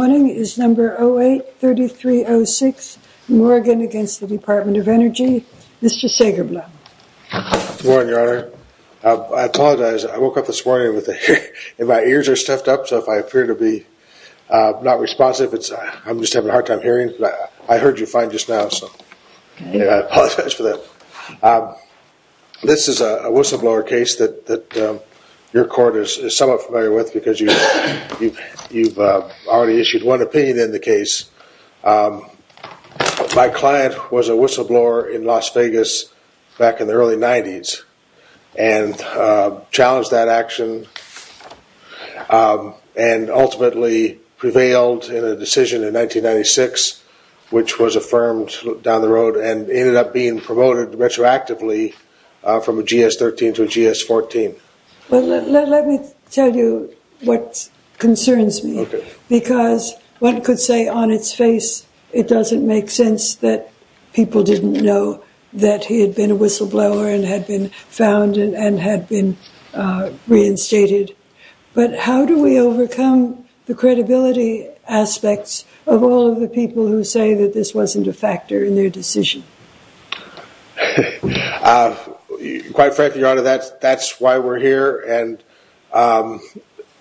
Morning is number 08-3306. Morgan against the Department of Energy. Mr. Sagerblum. Morning, Your Honor. I apologize. I woke up this morning with my ears are stuffed up, so if I appear to be not responsive, I'm just having a hard time hearing. I heard you fine just now, so I apologize for that. This is a whistleblower case that your court is somewhat familiar with because you've already issued one opinion in the case. My client was a whistleblower in Las Vegas back in the early 90s and challenged that action and ultimately prevailed in a decision in 1996, which was affirmed down the road and ended up being promoted retroactively from a GS-13 to a GS-14. Let me tell you what concerns me because one could say on its face it doesn't make sense that people didn't know that he had been a whistleblower and had been found and had been reinstated. But how do we overcome the credibility aspects of all of the quite frankly, Your Honor, that's why we're here.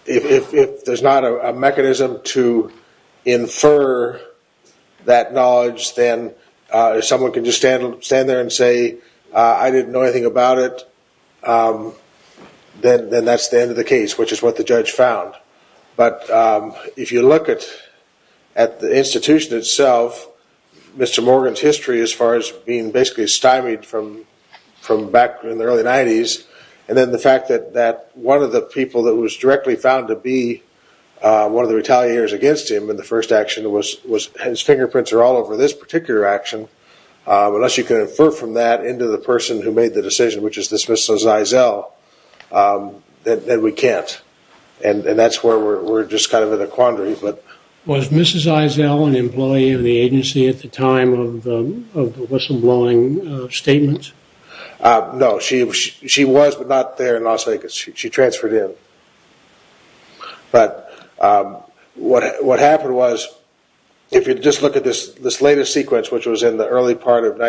If there's not a mechanism to infer that knowledge, then someone can just stand there and say, I didn't know anything about it, then that's the end of the case, which is what the judge found. But if you look at the institution itself, Mr. Morgan's history as far as being basically stymied from back in the early 90s and then the fact that one of the people that was directly found to be one of the retaliators against him in the first action, his fingerprints are all over this particular action, unless you can infer from that into the person who made the decision, which is this Mrs. Eisele, then we can't. And that's where we're just kind of in a quandary. Was Mrs. Eisele an employee of the agency at the time of the whistleblowing statements? No. She was, but not there in Las Vegas. She transferred in. But what happened was, if you just look at this latest sequence, which was in the early part of an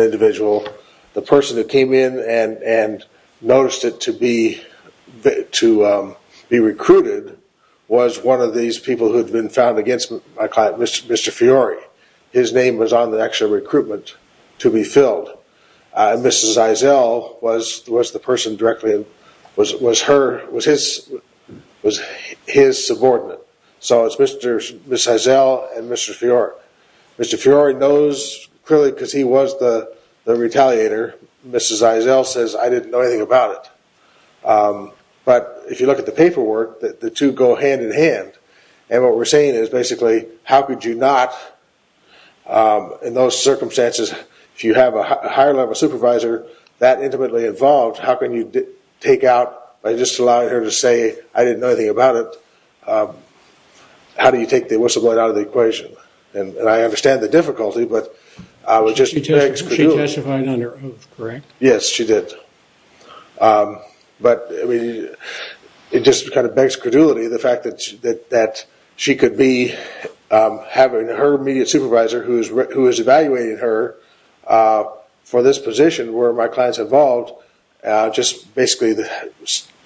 individual, the person that came in and noticed it to be recruited was one of these people who had been found against my client, Mr. Fiore. His name was on the actual recruitment to be filled. Mrs. Eisele was the person directly, was his subordinate. So it's Mrs. Eisele and Mr. Fiore. Mr. Fiore knows clearly because he was the retaliator. Mrs. Eisele says, I didn't know anything about it. But if you look at the paperwork, the two go hand in hand. And what we're saying is basically, how could you not, in those circumstances, if you have a higher level supervisor that intimately involved, how can you take out by just allowing her to say, I didn't know anything about it, how do you take the whistleblowing out of the equation? And I understand the difficulty, but it just begs credulity. She testified under oath, correct? Yes, she did. But it just kind of begs credulity, the fact that she could be having her immediate supervisor, who is evaluating her, for this position where my client's involved, just basically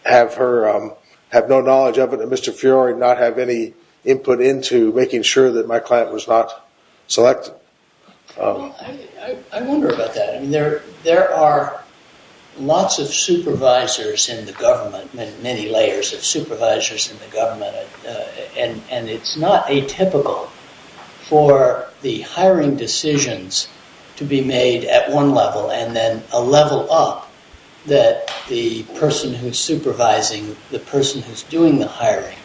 have no knowledge of it, and Mr. Fiore not have any input into making sure that my client was not selected. I wonder about that. I mean, there are lots of supervisors in the government, many layers of supervisors in the government, and it's not atypical for the hiring decisions to be made at one level and then a level up that the person who's supervising, the person who's doing the hiring,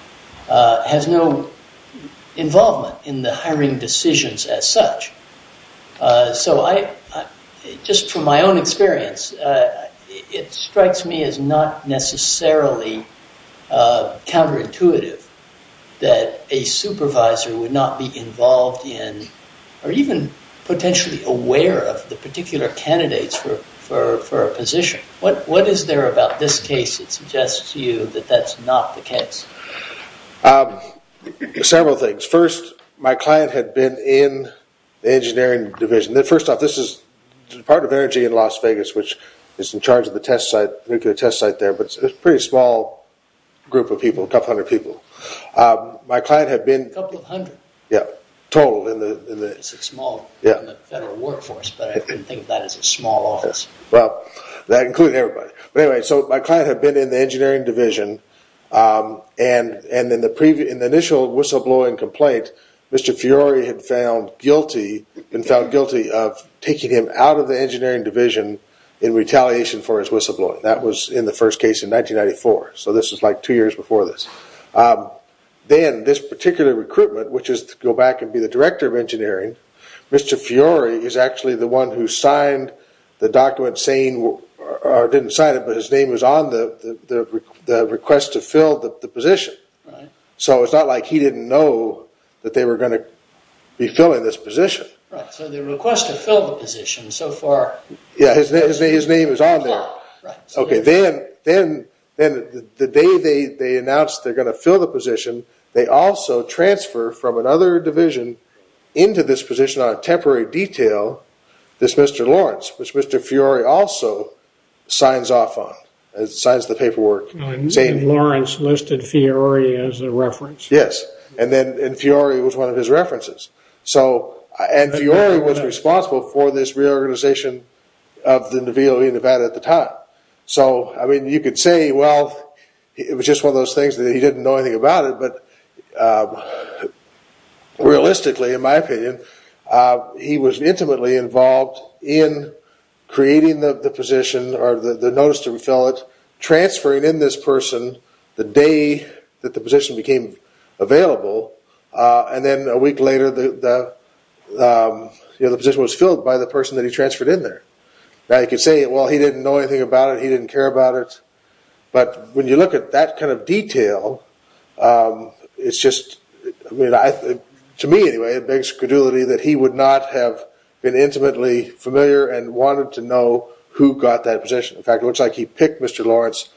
has no involvement in the hiring decisions as such. So I, just from my own experience, it strikes me as not necessarily counterintuitive that a supervisor would not be involved in, or even potentially aware of, the particular candidates for a position. What is there about this case that suggests to you that that's not the case? Several things. First, my client had been in the engineering division. First off, this is the Department of Energy in Las Vegas, which is in charge of the test site, nuclear test site there, but it's a pretty small group of people, a couple hundred people. My client had been... A couple of hundred. Yeah, total in the... It's a small federal workforce, but I couldn't think of that as a small office. Well, that included everybody. But anyway, so my client had been in the engineering division, and in the initial whistleblowing complaint, Mr. Fiore had been found guilty of taking him out of the engineering division in retaliation for his whistleblowing. That was in the first case in 1994, so this is like two years before this. Then, this particular recruitment, which is to go back and be the director of engineering, Mr. Fiore is actually the one who signed the document saying... Or didn't sign it, but his name was on the request to fill the position. Right. So it's not like he didn't know that they were going to be filling this position. Right. So the request to fill the position, so far... Yeah, his name is on there. Yeah, right. Okay. Then, the day they announced they're going to fill the position, they also transfer from another division into this position on a temporary detail, this Mr. Lawrence, which Mr. Fiore also signs off on, signs the paperwork saying... Lawrence listed Fiore as a reference. Yes, and then Fiore was one of his references. So, and Fiore was responsible for this reorganization of the NOVILLE in Nevada at the time. So, I mean, you could say, well, it was just one of the... He didn't know anything about it, but realistically, in my opinion, he was intimately involved in creating the position or the notice to fill it, transferring in this person the day that the position became available, and then a week later, the position was filled by the person that he transferred in there. Now, you could say, well, he didn't know anything about it, he didn't care about it, but when you look at that kind of detail, it's just... To me, anyway, it begs credulity that he would not have been intimately familiar and wanted to know who got that position. In fact, it looks like he picked Mr. Lawrence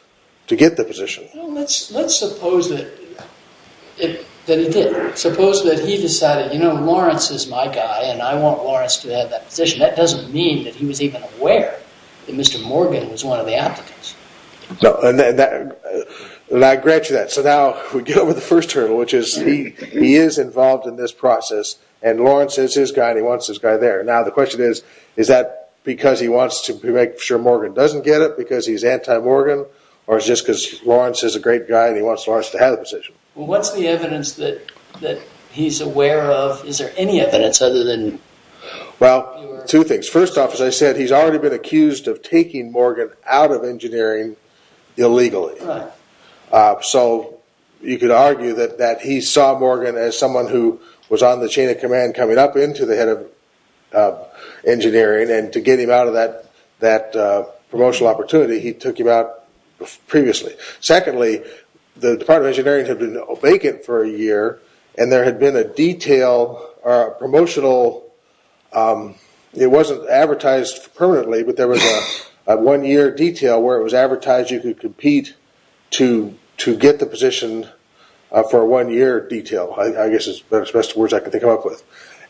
to get the position. Let's suppose that he did. Suppose that he decided, you know, Lawrence is my guy and I want Lawrence to have that position. That doesn't mean that he was even aware that Mr. Morgan was one of the applicants. No, and I grant you that. So now, we get over the first hurdle, which is he is involved in this process and Lawrence is his guy and he wants his guy there. Now, the question is, is that because he wants to make sure Morgan doesn't get it because he's anti-Morgan or it's just because Lawrence is a great guy and he wants Lawrence to have the position? Well, what's the evidence that he's aware of? Is there any evidence other than... Well, two things. First off, as I said, he's already been accused of taking Morgan out of engineering illegally. So, you could argue that he saw Morgan as someone who was on the chain of command coming up into the head of engineering and to get him out of that promotional opportunity, he took him out previously. Secondly, the Department of Engineering had been vacant for a year and there had been a promotional... It wasn't advertised permanently, but there was a one-year detail where it was advertised you could compete to get the position for a one-year detail. I guess it's the best words I could come up with.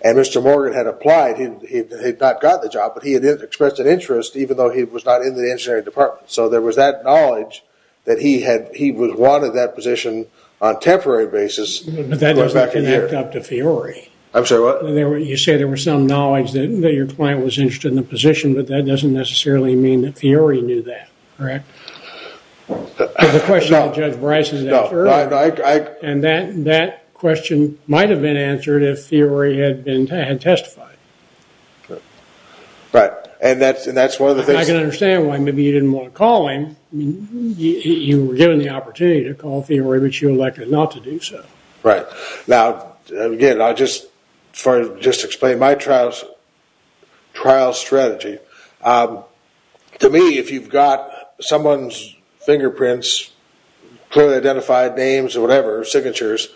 And Mr. Morgan had applied. He had not gotten the job, but he had expressed an interest even though he was not in the engineering department. So, there was that knowledge that he wanted that position on a temporary basis. But that doesn't connect up to Fiore. I'm sorry, what? You say there was some knowledge that your client was interested in the position, but that doesn't necessarily mean that Fiore knew that, correct? The question of Judge Bryson... And that question might have been answered if Fiore had testified. Right. And that's one of the things... I can understand why maybe you didn't want to call him. You were given the opportunity to call Fiore, but you elected not to do so. Right. Now, again, I'll just explain my trial strategy. To me, if you've got someone's fingerprints, clearly identified names or whatever, signatures,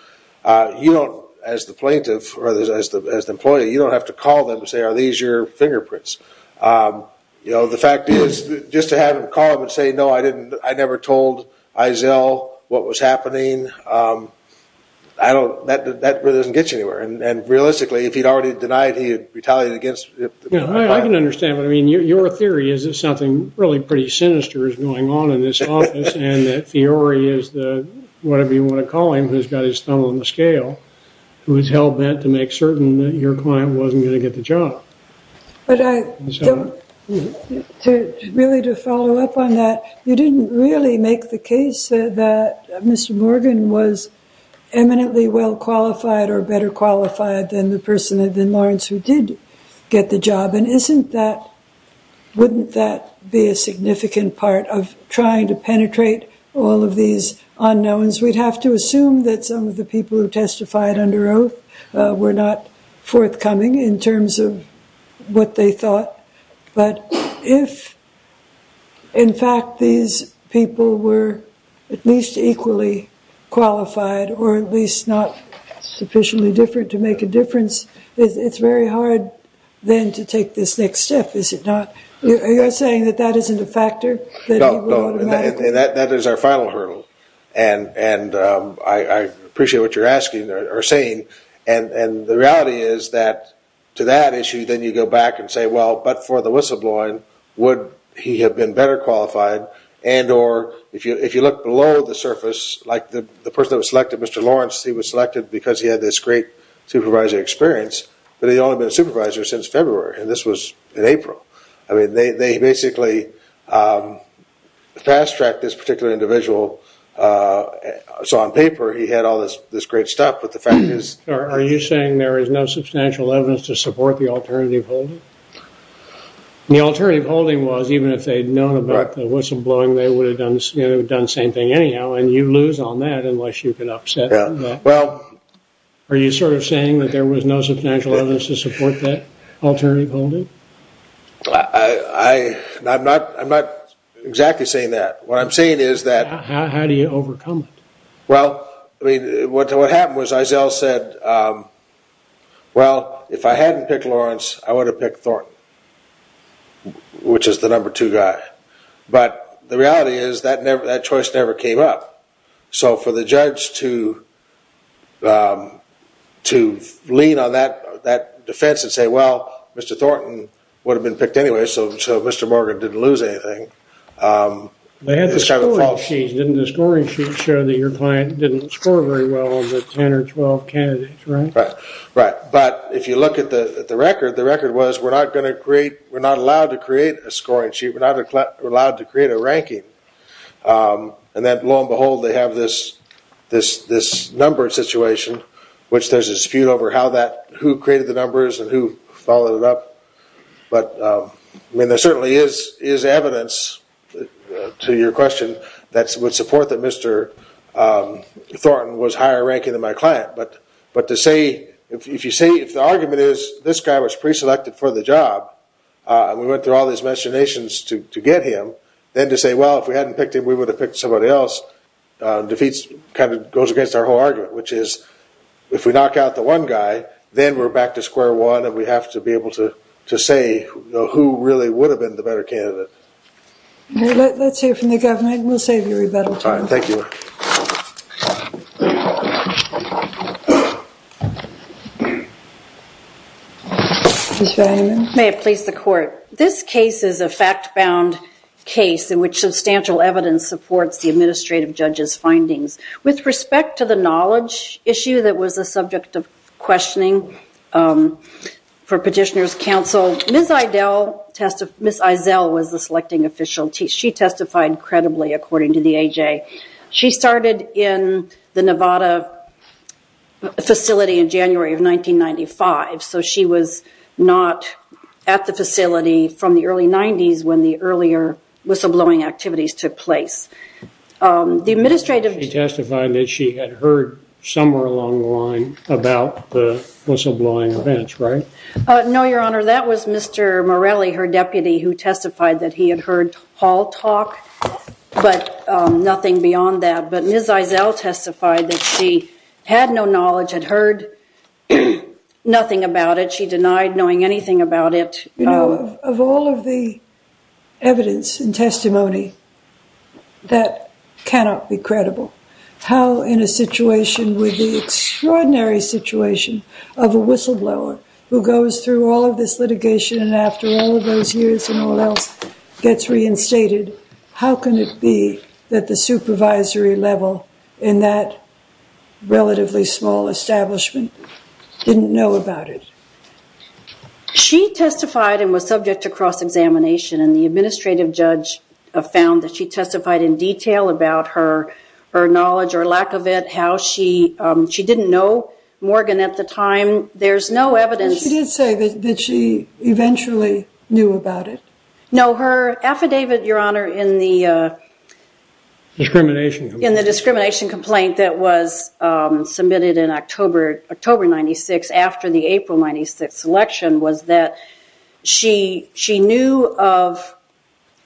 you don't, as the plaintiff or as the employee, you don't have to call them and say, are these your fingerprints? The fact is, just to have him call up and say, no, I never told Eizell what was happening, that really doesn't get you anywhere. And realistically, if he'd already denied, he'd retaliate against... I can understand, but your theory is that something really pretty sinister is going on in this office, and that Fiore is the, whatever you want to call him, who's got his thumb on the scale, who is hell-bent to make certain that your client wasn't going to get the job. But I don't... Really, to follow up on that, you didn't really make the case that Mr. Morgan was eminently well-qualified or better qualified than the person, than Lawrence, who did get the job. And isn't that, wouldn't that be a significant part of trying to penetrate all of these unknowns? We'd have to assume that some of the people who testified under oath were not forthcoming in terms of what they thought. But if, in fact, these people were at least equally qualified, or at least not sufficiently different to make a difference, it's very hard then to take this next step, is it not? Are you saying that that isn't a factor? No, and that is our final hurdle. And I appreciate what you're asking, or saying. And the reality is that, to that issue, then you go back and say, well, but for the whistleblowing, would he have been better qualified? And or, if you look below the surface, like the person that was selected, Mr. Lawrence, he was selected because he had this great supervisor experience, but he'd only been a supervisor since February, and this was in April. I mean, they basically fast-tracked this particular individual. So on paper, he had all this great stuff, but the fact is... Are you saying there is no substantial evidence to support the alternative holding? The alternative holding was, even if they'd known about the whistleblowing, they would have done the same thing anyhow, and you lose on that unless you can upset that. Well... Are you sort of saying that there was no substantial evidence to support that Exactly saying that. What I'm saying is that... How do you overcome it? Well, I mean, what happened was, Eisele said, well, if I hadn't picked Lawrence, I would have picked Thornton, which is the number two guy. But the reality is that choice never came up. So for the judge to lean on that defense and say, well, Mr. Thornton would have been picked anyway, so Mr. Morgan didn't lose anything... They had the scoring sheet. Didn't the scoring sheet show that your client didn't score very well with 10 or 12 candidates, right? Right. But if you look at the record, the record was, we're not allowed to create a scoring sheet. We're not allowed to create a ranking. And then, lo and behold, they have this number situation, which there's a dispute over who created the numbers and who followed it up. But I mean, there certainly is evidence to your question that would support that Mr. Thornton was higher ranking than my client. But to say... If the argument is, this guy was pre-selected for the job, and we went through all these machinations to get him, then to say, well, if we hadn't picked him, we would have picked somebody else, defeats kind of goes against our whole argument, which is, if we knock out the one guy, then we're back to square one. And we have to be able to say who really would have been the better candidate. Let's hear from the governor and we'll save you a rebuttal. All right. Thank you. May it please the court. This case is a fact bound case in which substantial evidence supports the administrative judge's findings. With respect to the knowledge issue that was the subject of questioning for petitioner's counsel, Ms. Eisel was the selecting official. She testified credibly according to the AJ. She started in the Nevada facility in January of 1995. So she was not at the facility from the early 90s when the earlier whistleblowing activities took place. The administrative... She testified that she had heard somewhere along the line about the whistleblowing events, right? No, your honor. That was Mr. Morelli, her deputy who testified that he had heard Paul talk, but nothing beyond that. But Ms. Eisel testified that she had no knowledge, had heard nothing about it. She denied knowing anything about it. Of all of the evidence and testimony that cannot be credible, how in a situation with the extraordinary situation of a whistleblower who goes through all of this litigation and after all of those years and all else gets reinstated, how can it be that the supervisory level in that relatively small establishment didn't know about it? She testified and was subject to cross-examination and the administrative judge found that she testified in detail about her knowledge or lack of it, how she didn't know Morgan at the time. There's no evidence... She did say that she eventually knew about it? No, her affidavit, your honor, in the discrimination complaint that was submitted in October 96 after the April 96 election was that she knew of,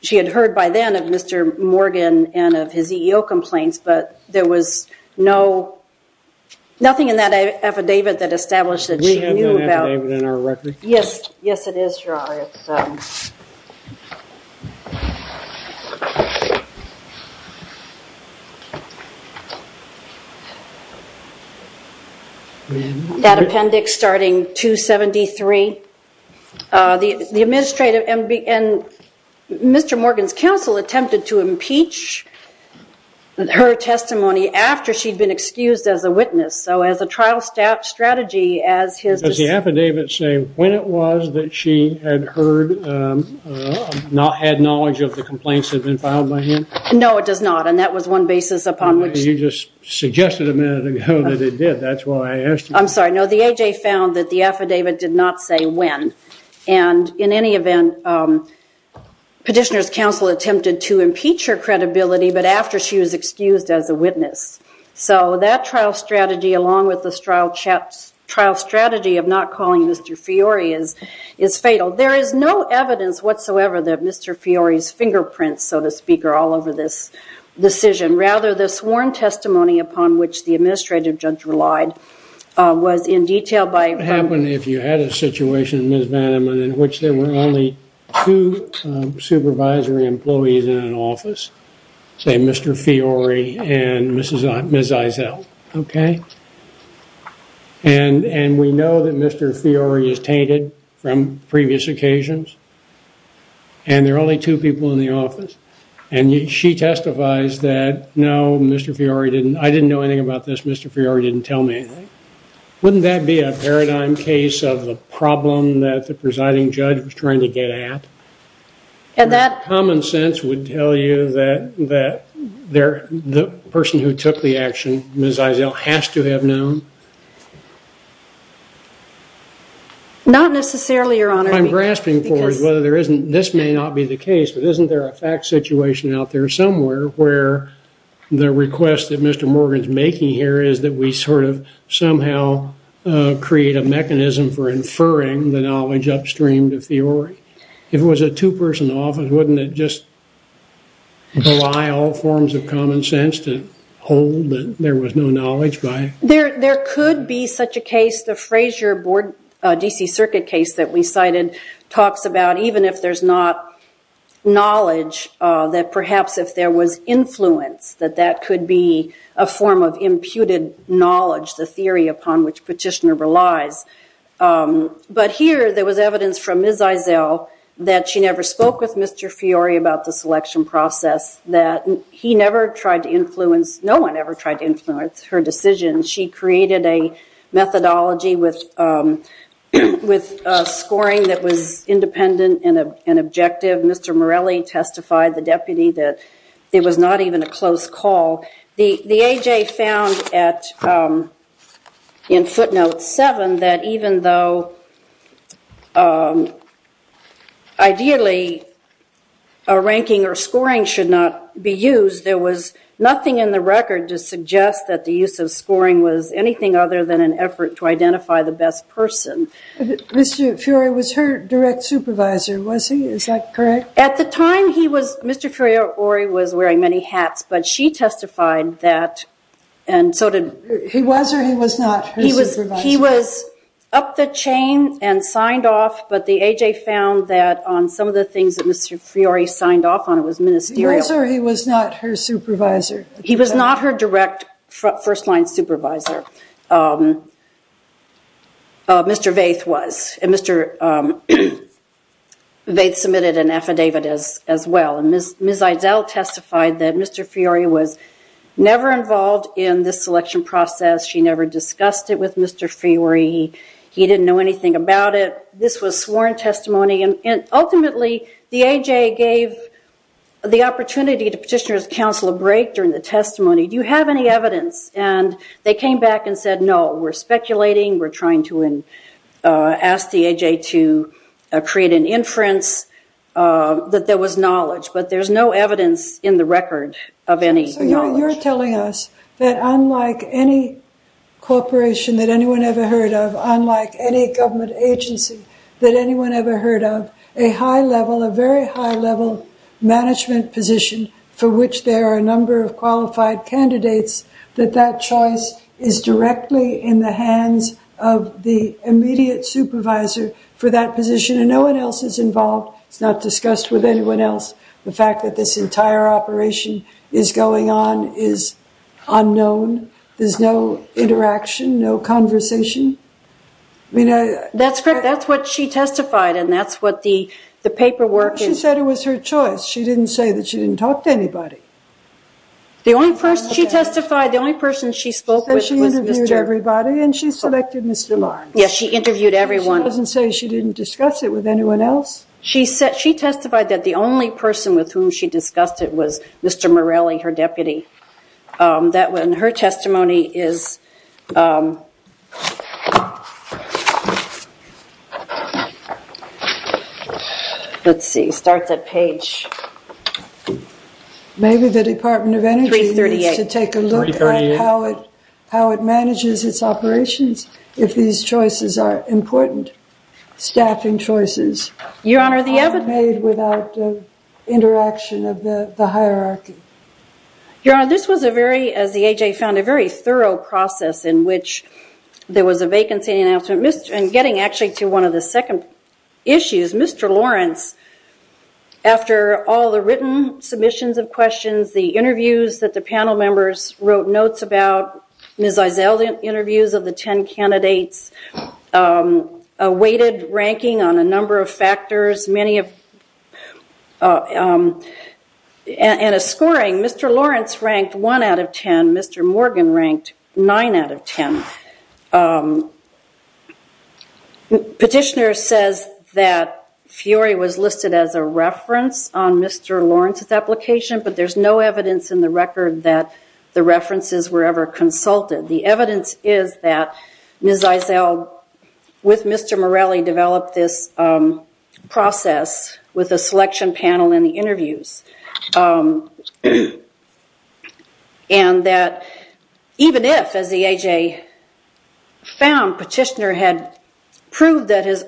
she had heard by then of Mr. Morgan and of his EEO complaints, but there was no, nothing in that affidavit that established that she knew about... We have no affidavit in our record? Yes, yes it is, your honor. That appendix starting 273, the administrative and Mr. Morgan's counsel attempted to impeach her testimony after she'd been excused as a witness, so as a trial strategy as his... Does the affidavit say when it was that she had heard, not had knowledge of the complaints that you just suggested a minute ago that it did, that's why I asked you. I'm sorry, no, the A.J. found that the affidavit did not say when, and in any event, petitioner's counsel attempted to impeach her credibility, but after she was excused as a witness, so that trial strategy along with the trial strategy of not calling Mr. Fiore is fatal. There is no evidence whatsoever that Mr. Fiore's fingerprints, so to speak, are all over this decision. Rather, the sworn testimony upon which the administrative judge relied was in detail by... What would happen if you had a situation, Ms. Vanderman, in which there were only two supervisory employees in an office, say Mr. Fiore and Ms. Eisel, okay? And we know that Mr. Fiore is tainted from previous occasions, and there are only two people in the office, and she testifies that, no, Mr. Fiore didn't... I didn't know anything about this. Mr. Fiore didn't tell me anything. Wouldn't that be a paradigm case of the problem that the presiding judge was trying to get at? And that common sense would tell you that the person who took the action, Ms. Eisel, has to have known? Not necessarily, Your Honor. I'm grasping forward whether there isn't... This may not be the case, but isn't there a fact situation out there somewhere where the request that Mr. Morgan's making here is that we sort of somehow create a mechanism for inferring the knowledge upstream to Fiore? If it was a two-person office, wouldn't it just belie all forms of common sense to hold there was no knowledge by... There could be such a case. The Frazier board DC circuit case that we cited talks about even if there's not knowledge, that perhaps if there was influence, that that could be a form of imputed knowledge, the theory upon which petitioner relies. But here there was evidence from Ms. Eisel that she never spoke with Mr. Fiore about the selection process, that he never tried to influence... No one ever tried to influence her decision. She created a methodology with scoring that was independent and objective. Mr. Morelli testified, the deputy, that it was not even a close call. The AJ found in footnote seven that even though ideally a ranking or scoring should not be used, there was nothing in the record to suggest that the use of scoring was anything other than an effort to identify the best person. Mr. Fiore was her direct supervisor, was he? Is that correct? At the time he was... Mr. Fiore was wearing many hats, but she testified that... And so did... He was or he was not her supervisor? He was up the found that on some of the things that Mr. Fiore signed off on, it was ministerial... He was or he was not her supervisor? He was not her direct first-line supervisor. Mr. Vaith was. And Mr. Vaith submitted an affidavit as well. And Ms. Eisel testified that Mr. Fiore was never involved in this selection process. She never discussed it with Mr. Fiore. He didn't know anything about it. This was sworn testimony. And ultimately the AJ gave the opportunity to petitioner's counsel a break during the testimony. Do you have any evidence? And they came back and said, no, we're speculating. We're trying to ask the AJ to create an inference that there was knowledge, but there's no evidence in the record of any... You're telling us that unlike any corporation that anyone ever heard of, unlike any government agency that anyone ever heard of, a high level, a very high level management position for which there are a number of qualified candidates, that that choice is directly in the hands of the immediate supervisor for that position and no one else is involved. It's not discussed with anyone else. The fact that this entire operation is going on is unknown. There's no interaction, no conversation. I mean... That's correct. That's what she testified. And that's what the paperwork... She said it was her choice. She didn't say that she didn't talk to anybody. The only person she testified, the only person she spoke with was Mr... She interviewed everybody and she selected Mr. Barnes. Yes, she interviewed everyone. She doesn't say she didn't discuss it with anyone else. She testified that the only person with whom she discussed it was Mr. Morelli, her deputy. That when her testimony is... Let's see. Start that page. Maybe the Department of Energy needs to take a look at how it manages its operations if these choices are important. Staffing choices are made without the interaction of the hierarchy. Your Honor, this was a very, as the AJ found, a very thorough process in which there was a vacancy in the announcement. And getting actually to one of the second issues, Mr. Lawrence, after all the written submissions of questions, the interviews that the panel members wrote notes about, Ms. Eisele interviews of the 10 candidates, a weighted ranking on a number of factors, many of... And a scoring. Mr. Lawrence ranked one out of 10. Mr. Morgan ranked nine out of 10. Petitioner says that Fury was listed as a reference on Mr. Lawrence's application, but there's no evidence in the record that the references were ever consulted. The evidence is that Ms. Eisele, with Mr. Morelli, developed this process with a selection panel in the interviews. And that even if, as the AJ found, Petitioner had proved that his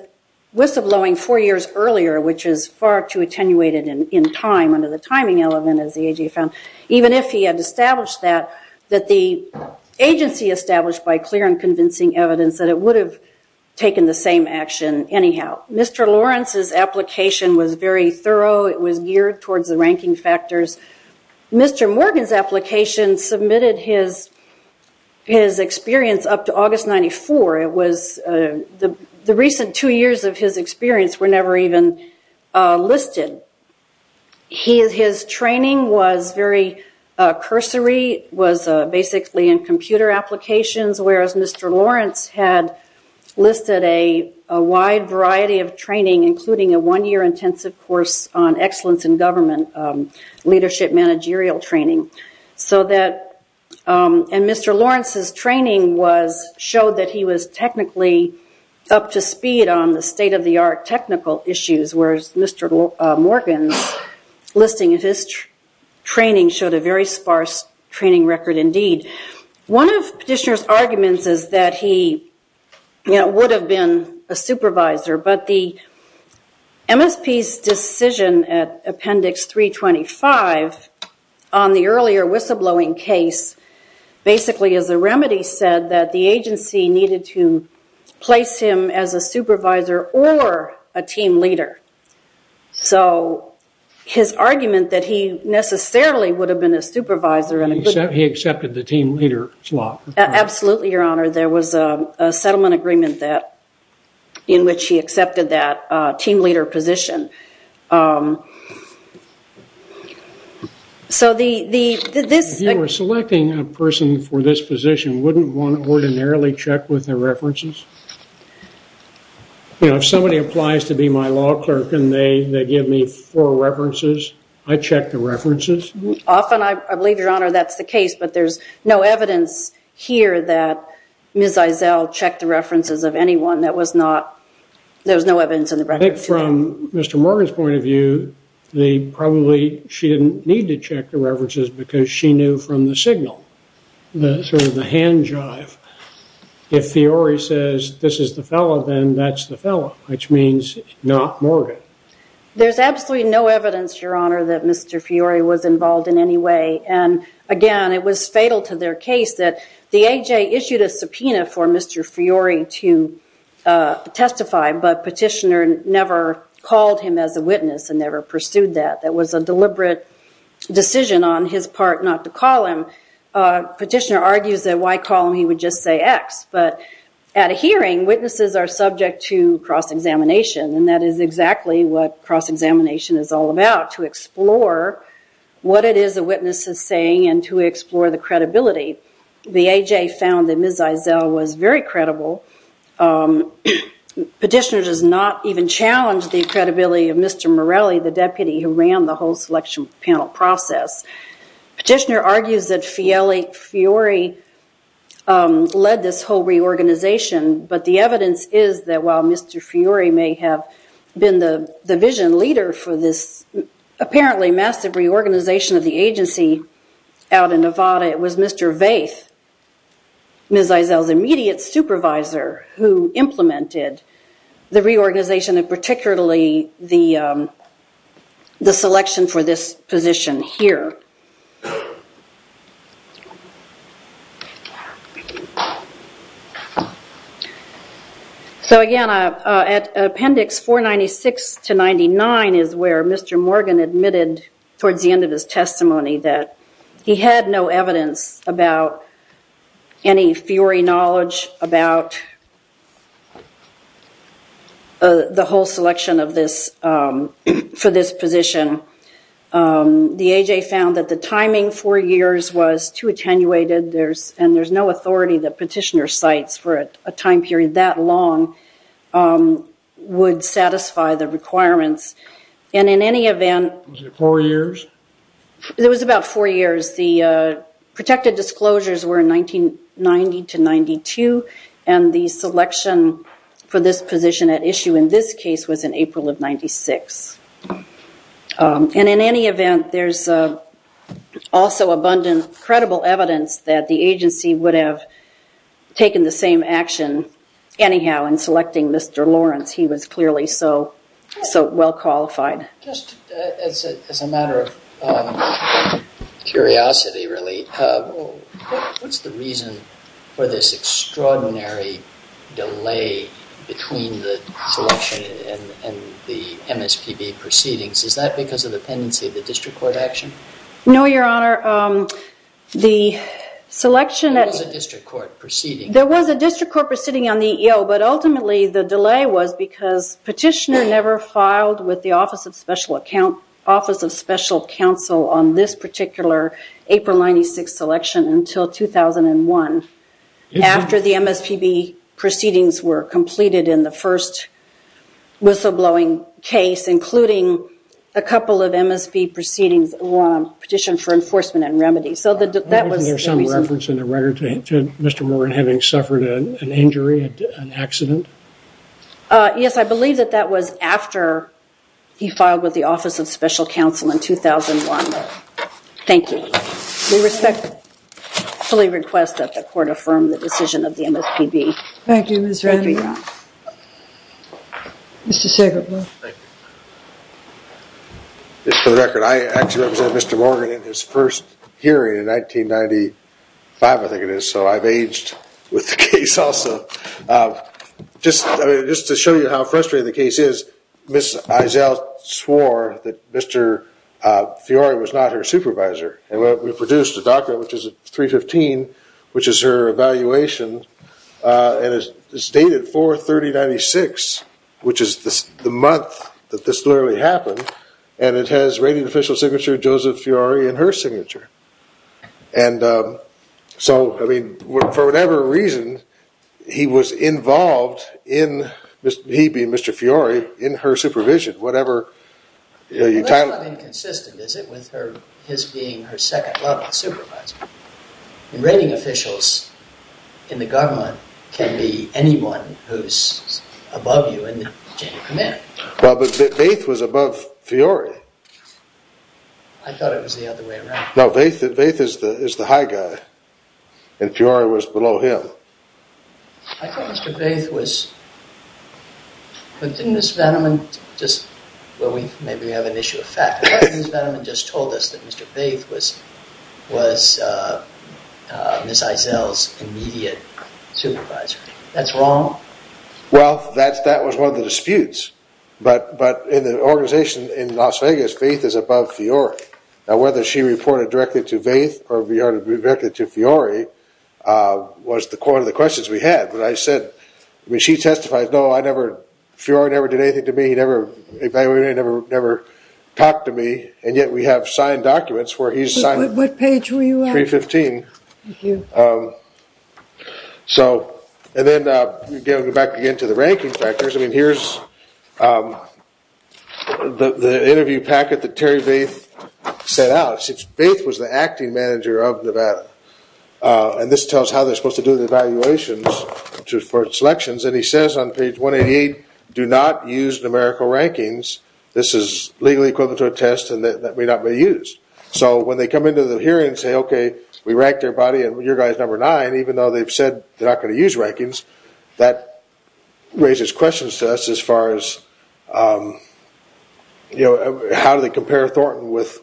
whistleblowing four years earlier, which is far too attenuated in time under the timing element, as the AJ found, even if he had established that, that the agency established by clear and convincing evidence that it would have taken the same action anyhow. Mr. Lawrence's application was very thorough. It was geared towards the ranking factors. Mr. Morgan's application submitted his experience up to August 94. The recent two years of his experience were never even listed. His training was very cursory, was basically in computer applications, whereas Mr. Lawrence had listed a wide variety of training, including a one-year intensive course on excellence in government leadership managerial training. Mr. Lawrence's training showed that he was technically up to speed on the state-of-the-art technical issues, whereas Mr. Morgan's listing of his training showed a very sparse training record indeed. One of Petitioner's arguments is that he would have been a supervisor, but the MSP's decision at Appendix 325 on the earlier whistleblowing case basically as a remedy said that the agency needed to place him as a supervisor or a team leader. So his argument that he necessarily would have been a supervisor... He accepted the team leader slot. Absolutely, Your Honor. There was a settlement agreement in which he accepted that team leader position. So the... If you were selecting a person for this position, wouldn't one ordinarily check with their references? You know, if somebody applies to be my law clerk and they give me four references, I check the references. Often, I believe, Your Honor, that's the case, but there's no evidence here that Ms. Eisele checked the references of anyone. That was not... There was no evidence in the record. I think from Mr. Morgan's point of view, they probably... She didn't need to check the references because she knew from the signal, the sort of the hand jive. If Fiore says this is the fellow, then that's the fellow, which means not Morgan. There's absolutely no evidence, Your Honor, that Mr. Fiore was fatal to their case. The AJ issued a subpoena for Mr. Fiore to testify, but Petitioner never called him as a witness and never pursued that. That was a deliberate decision on his part not to call him. Petitioner argues that why call him, he would just say X. But at a hearing, witnesses are subject to cross-examination, and that is exactly what cross-examination is all about, to explore what it is a witness is saying and to explore the credibility. The AJ found that Ms. Eisele was very credible. Petitioner does not even challenge the credibility of Mr. Morelli, the deputy who ran the whole selection panel process. Petitioner argues that Fiore led this whole reorganization, but the evidence is that while Mr. Fiore may have been the vision leader for this apparently massive reorganization of the agency out in Nevada, it was Mr. Vaith, Ms. Eisele's immediate supervisor, who implemented the reorganization and particularly the selection for this position here. So again, at Appendix 496 to 99 is where Mr. Morgan admitted towards the end of his testimony that he had no evidence about any Fiore knowledge about the whole selection for this position. The AJ found that the timing, four years, was too attenuated, and there's no authority that Petitioner cites for a time period that long would satisfy the requirements. And in any event... Was it four years? It was about four years. The protected disclosures were in 1990 to 92, and the selection for this position at issue in this case was in April of 96. And in any event, there's also abundant credible evidence that the agency would have taken the same action anyhow in selecting Mr. Lawrence. He was clearly so well qualified. Just as a matter of curiosity, really, what's the reason for this extraordinary delay between the selection and the MSPB proceedings? Is that because of the pendency of the district court action? No, Your Honor. The selection... There was a district court proceeding. There was a district court proceeding on the EEO, but ultimately the delay was because Petitioner filed with the Office of Special Account... Office of Special Counsel on this particular April 96 selection until 2001, after the MSPB proceedings were completed in the first whistleblowing case, including a couple of MSPB proceedings on petition for enforcement and remedy. So that was... Is there some reference in the record to Mr. Warren having suffered an injury, an accident? Uh, yes, I believe that that was after he filed with the Office of Special Counsel in 2001. Thank you. We respectfully request that the court affirm the decision of the MSPB. Thank you, Ms. Redding. Mr. Shackelford. Thank you. Just for the record, I actually represented Mr. Morgan in his first hearing in 1995, I think it is, so I've aged with the case also. Just to show you how frustrating the case is, Ms. Eisele swore that Mr. Fiori was not her supervisor, and we produced a document, which is 315, which is her evaluation. And it's dated 4-30-96, which is the month that this literally happened, and it has Joseph Fiori in her signature. And so, I mean, for whatever reason, he was involved in, he being Mr. Fiori, in her supervision, whatever... Well, that's not inconsistent, is it, with his being her second level supervisor? And rating officials in the government can be anyone who's above you in the chain of command. Well, but Vaith was above Fiori. I thought it was the other way around. No, Vaith is the high guy, and Fiori was below him. I thought Mr. Vaith was... But didn't Ms. Veneman just, well, maybe we have an issue of fact, but Ms. Veneman just told us that Mr. Vaith was Ms. Eisele's immediate supervisor. That's wrong? Well, that was one of the disputes. But in the organization in Las Vegas, Vaith is above Fiori. Now, whether she reported directly to Vaith or directly to Fiori was the core of the questions we had. But I said, I mean, she testified, no, Fiori never did anything to me. He never evaluated me, never talked to me. And yet we have signed documents where he's signed... What page were you on? 315. Thank you. So, and then, again, back again to the ranking factors. I mean, here's the interview packet that Terry Vaith set out. Vaith was the acting manager of Nevada. And this tells how they're supposed to do the evaluations for selections. And he says on page 188, do not use numerical rankings. This is legally equivalent to a test and that may not be used. So when they come into the hearing and say, okay, we ranked their body and your guy's number nine, even though they've said they're not going to use rankings, that raises questions to us as far as how do they compare Thornton with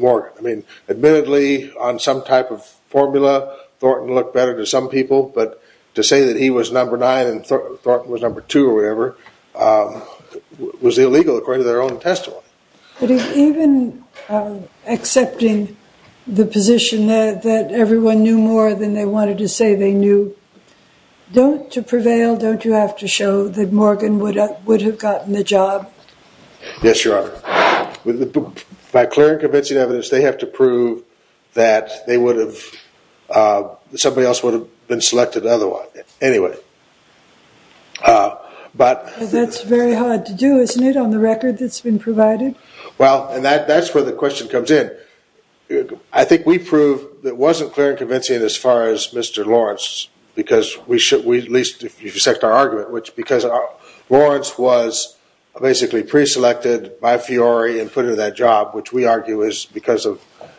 Morgan? I mean, admittedly, on some type of formula, Thornton looked better to some people. But to say that he was number nine and Thornton was number two or whatever was illegal according to their own testimony. But even accepting the position that everyone knew more than they wanted to say they knew, don't to prevail, don't you have to show that Morgan would have gotten the job? Yes, Your Honor. By clear and convincing evidence, they have to prove that they would have, somebody else would have been selected otherwise. Anyway, but... That's very hard to do, isn't it, on the record that's been provided? Well, and that's where the question comes in. I think we prove that it wasn't clear and convincing as far as Mr. Lawrence, because we should, at least if you accept our argument, which because Lawrence was basically pre-selected by Fiore and put in that job, which we argue is because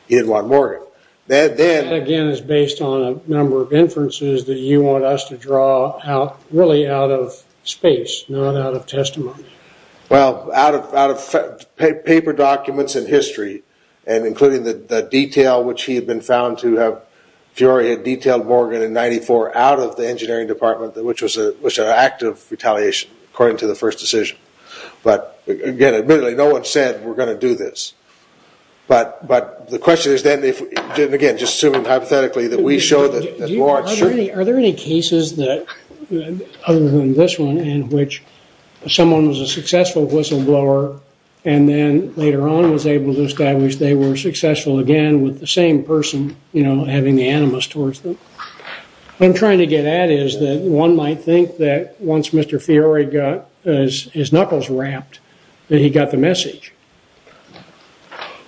he didn't want Morgan. That, again, is based on a number of inferences that you want us to draw out, really out of space, not out of testimony. Well, out of paper documents and history and including the detail which he had been found to have, Fiore had detailed Morgan in 94 out of the engineering department, which was an act of retaliation according to the first decision. But again, admittedly, no one said we're going to do this. But the question is then, again, just assuming hypothetically that we show that Lawrence Are there any cases that, other than this one, in which someone was a successful whistleblower and then later on was able to establish they were successful again with the same person, you know, having the animus towards them? What I'm trying to get at is that one might think that once Mr. Fiore got his knuckles wrapped, that he got the message.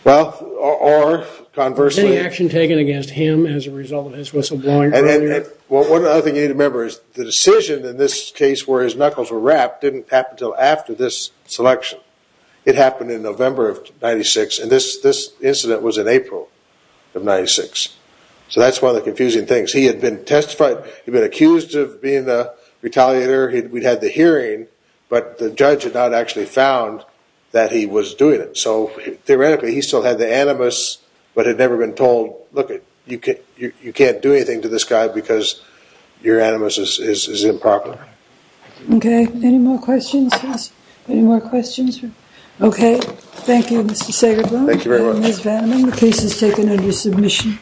Well, or conversely... Any action taken against him as a result of his whistleblowing earlier? Well, one other thing you need to remember is the decision in this case where his knuckles were wrapped didn't happen until after this selection. It happened in November of 96. And this incident was in April of 96. So that's one of the confusing things. He had been testified. He'd been accused of being a retaliator. We'd had the hearing. But the judge had not actually found that he was doing it. So theoretically, he still had the animus but had never been told, look, you can't do anything to this guy because your animus is improper. Okay. Any more questions? Any more questions? Thank you, Mr. Sagerboom. Thank you very much. And Ms. Vanneman. The case is taken under submission.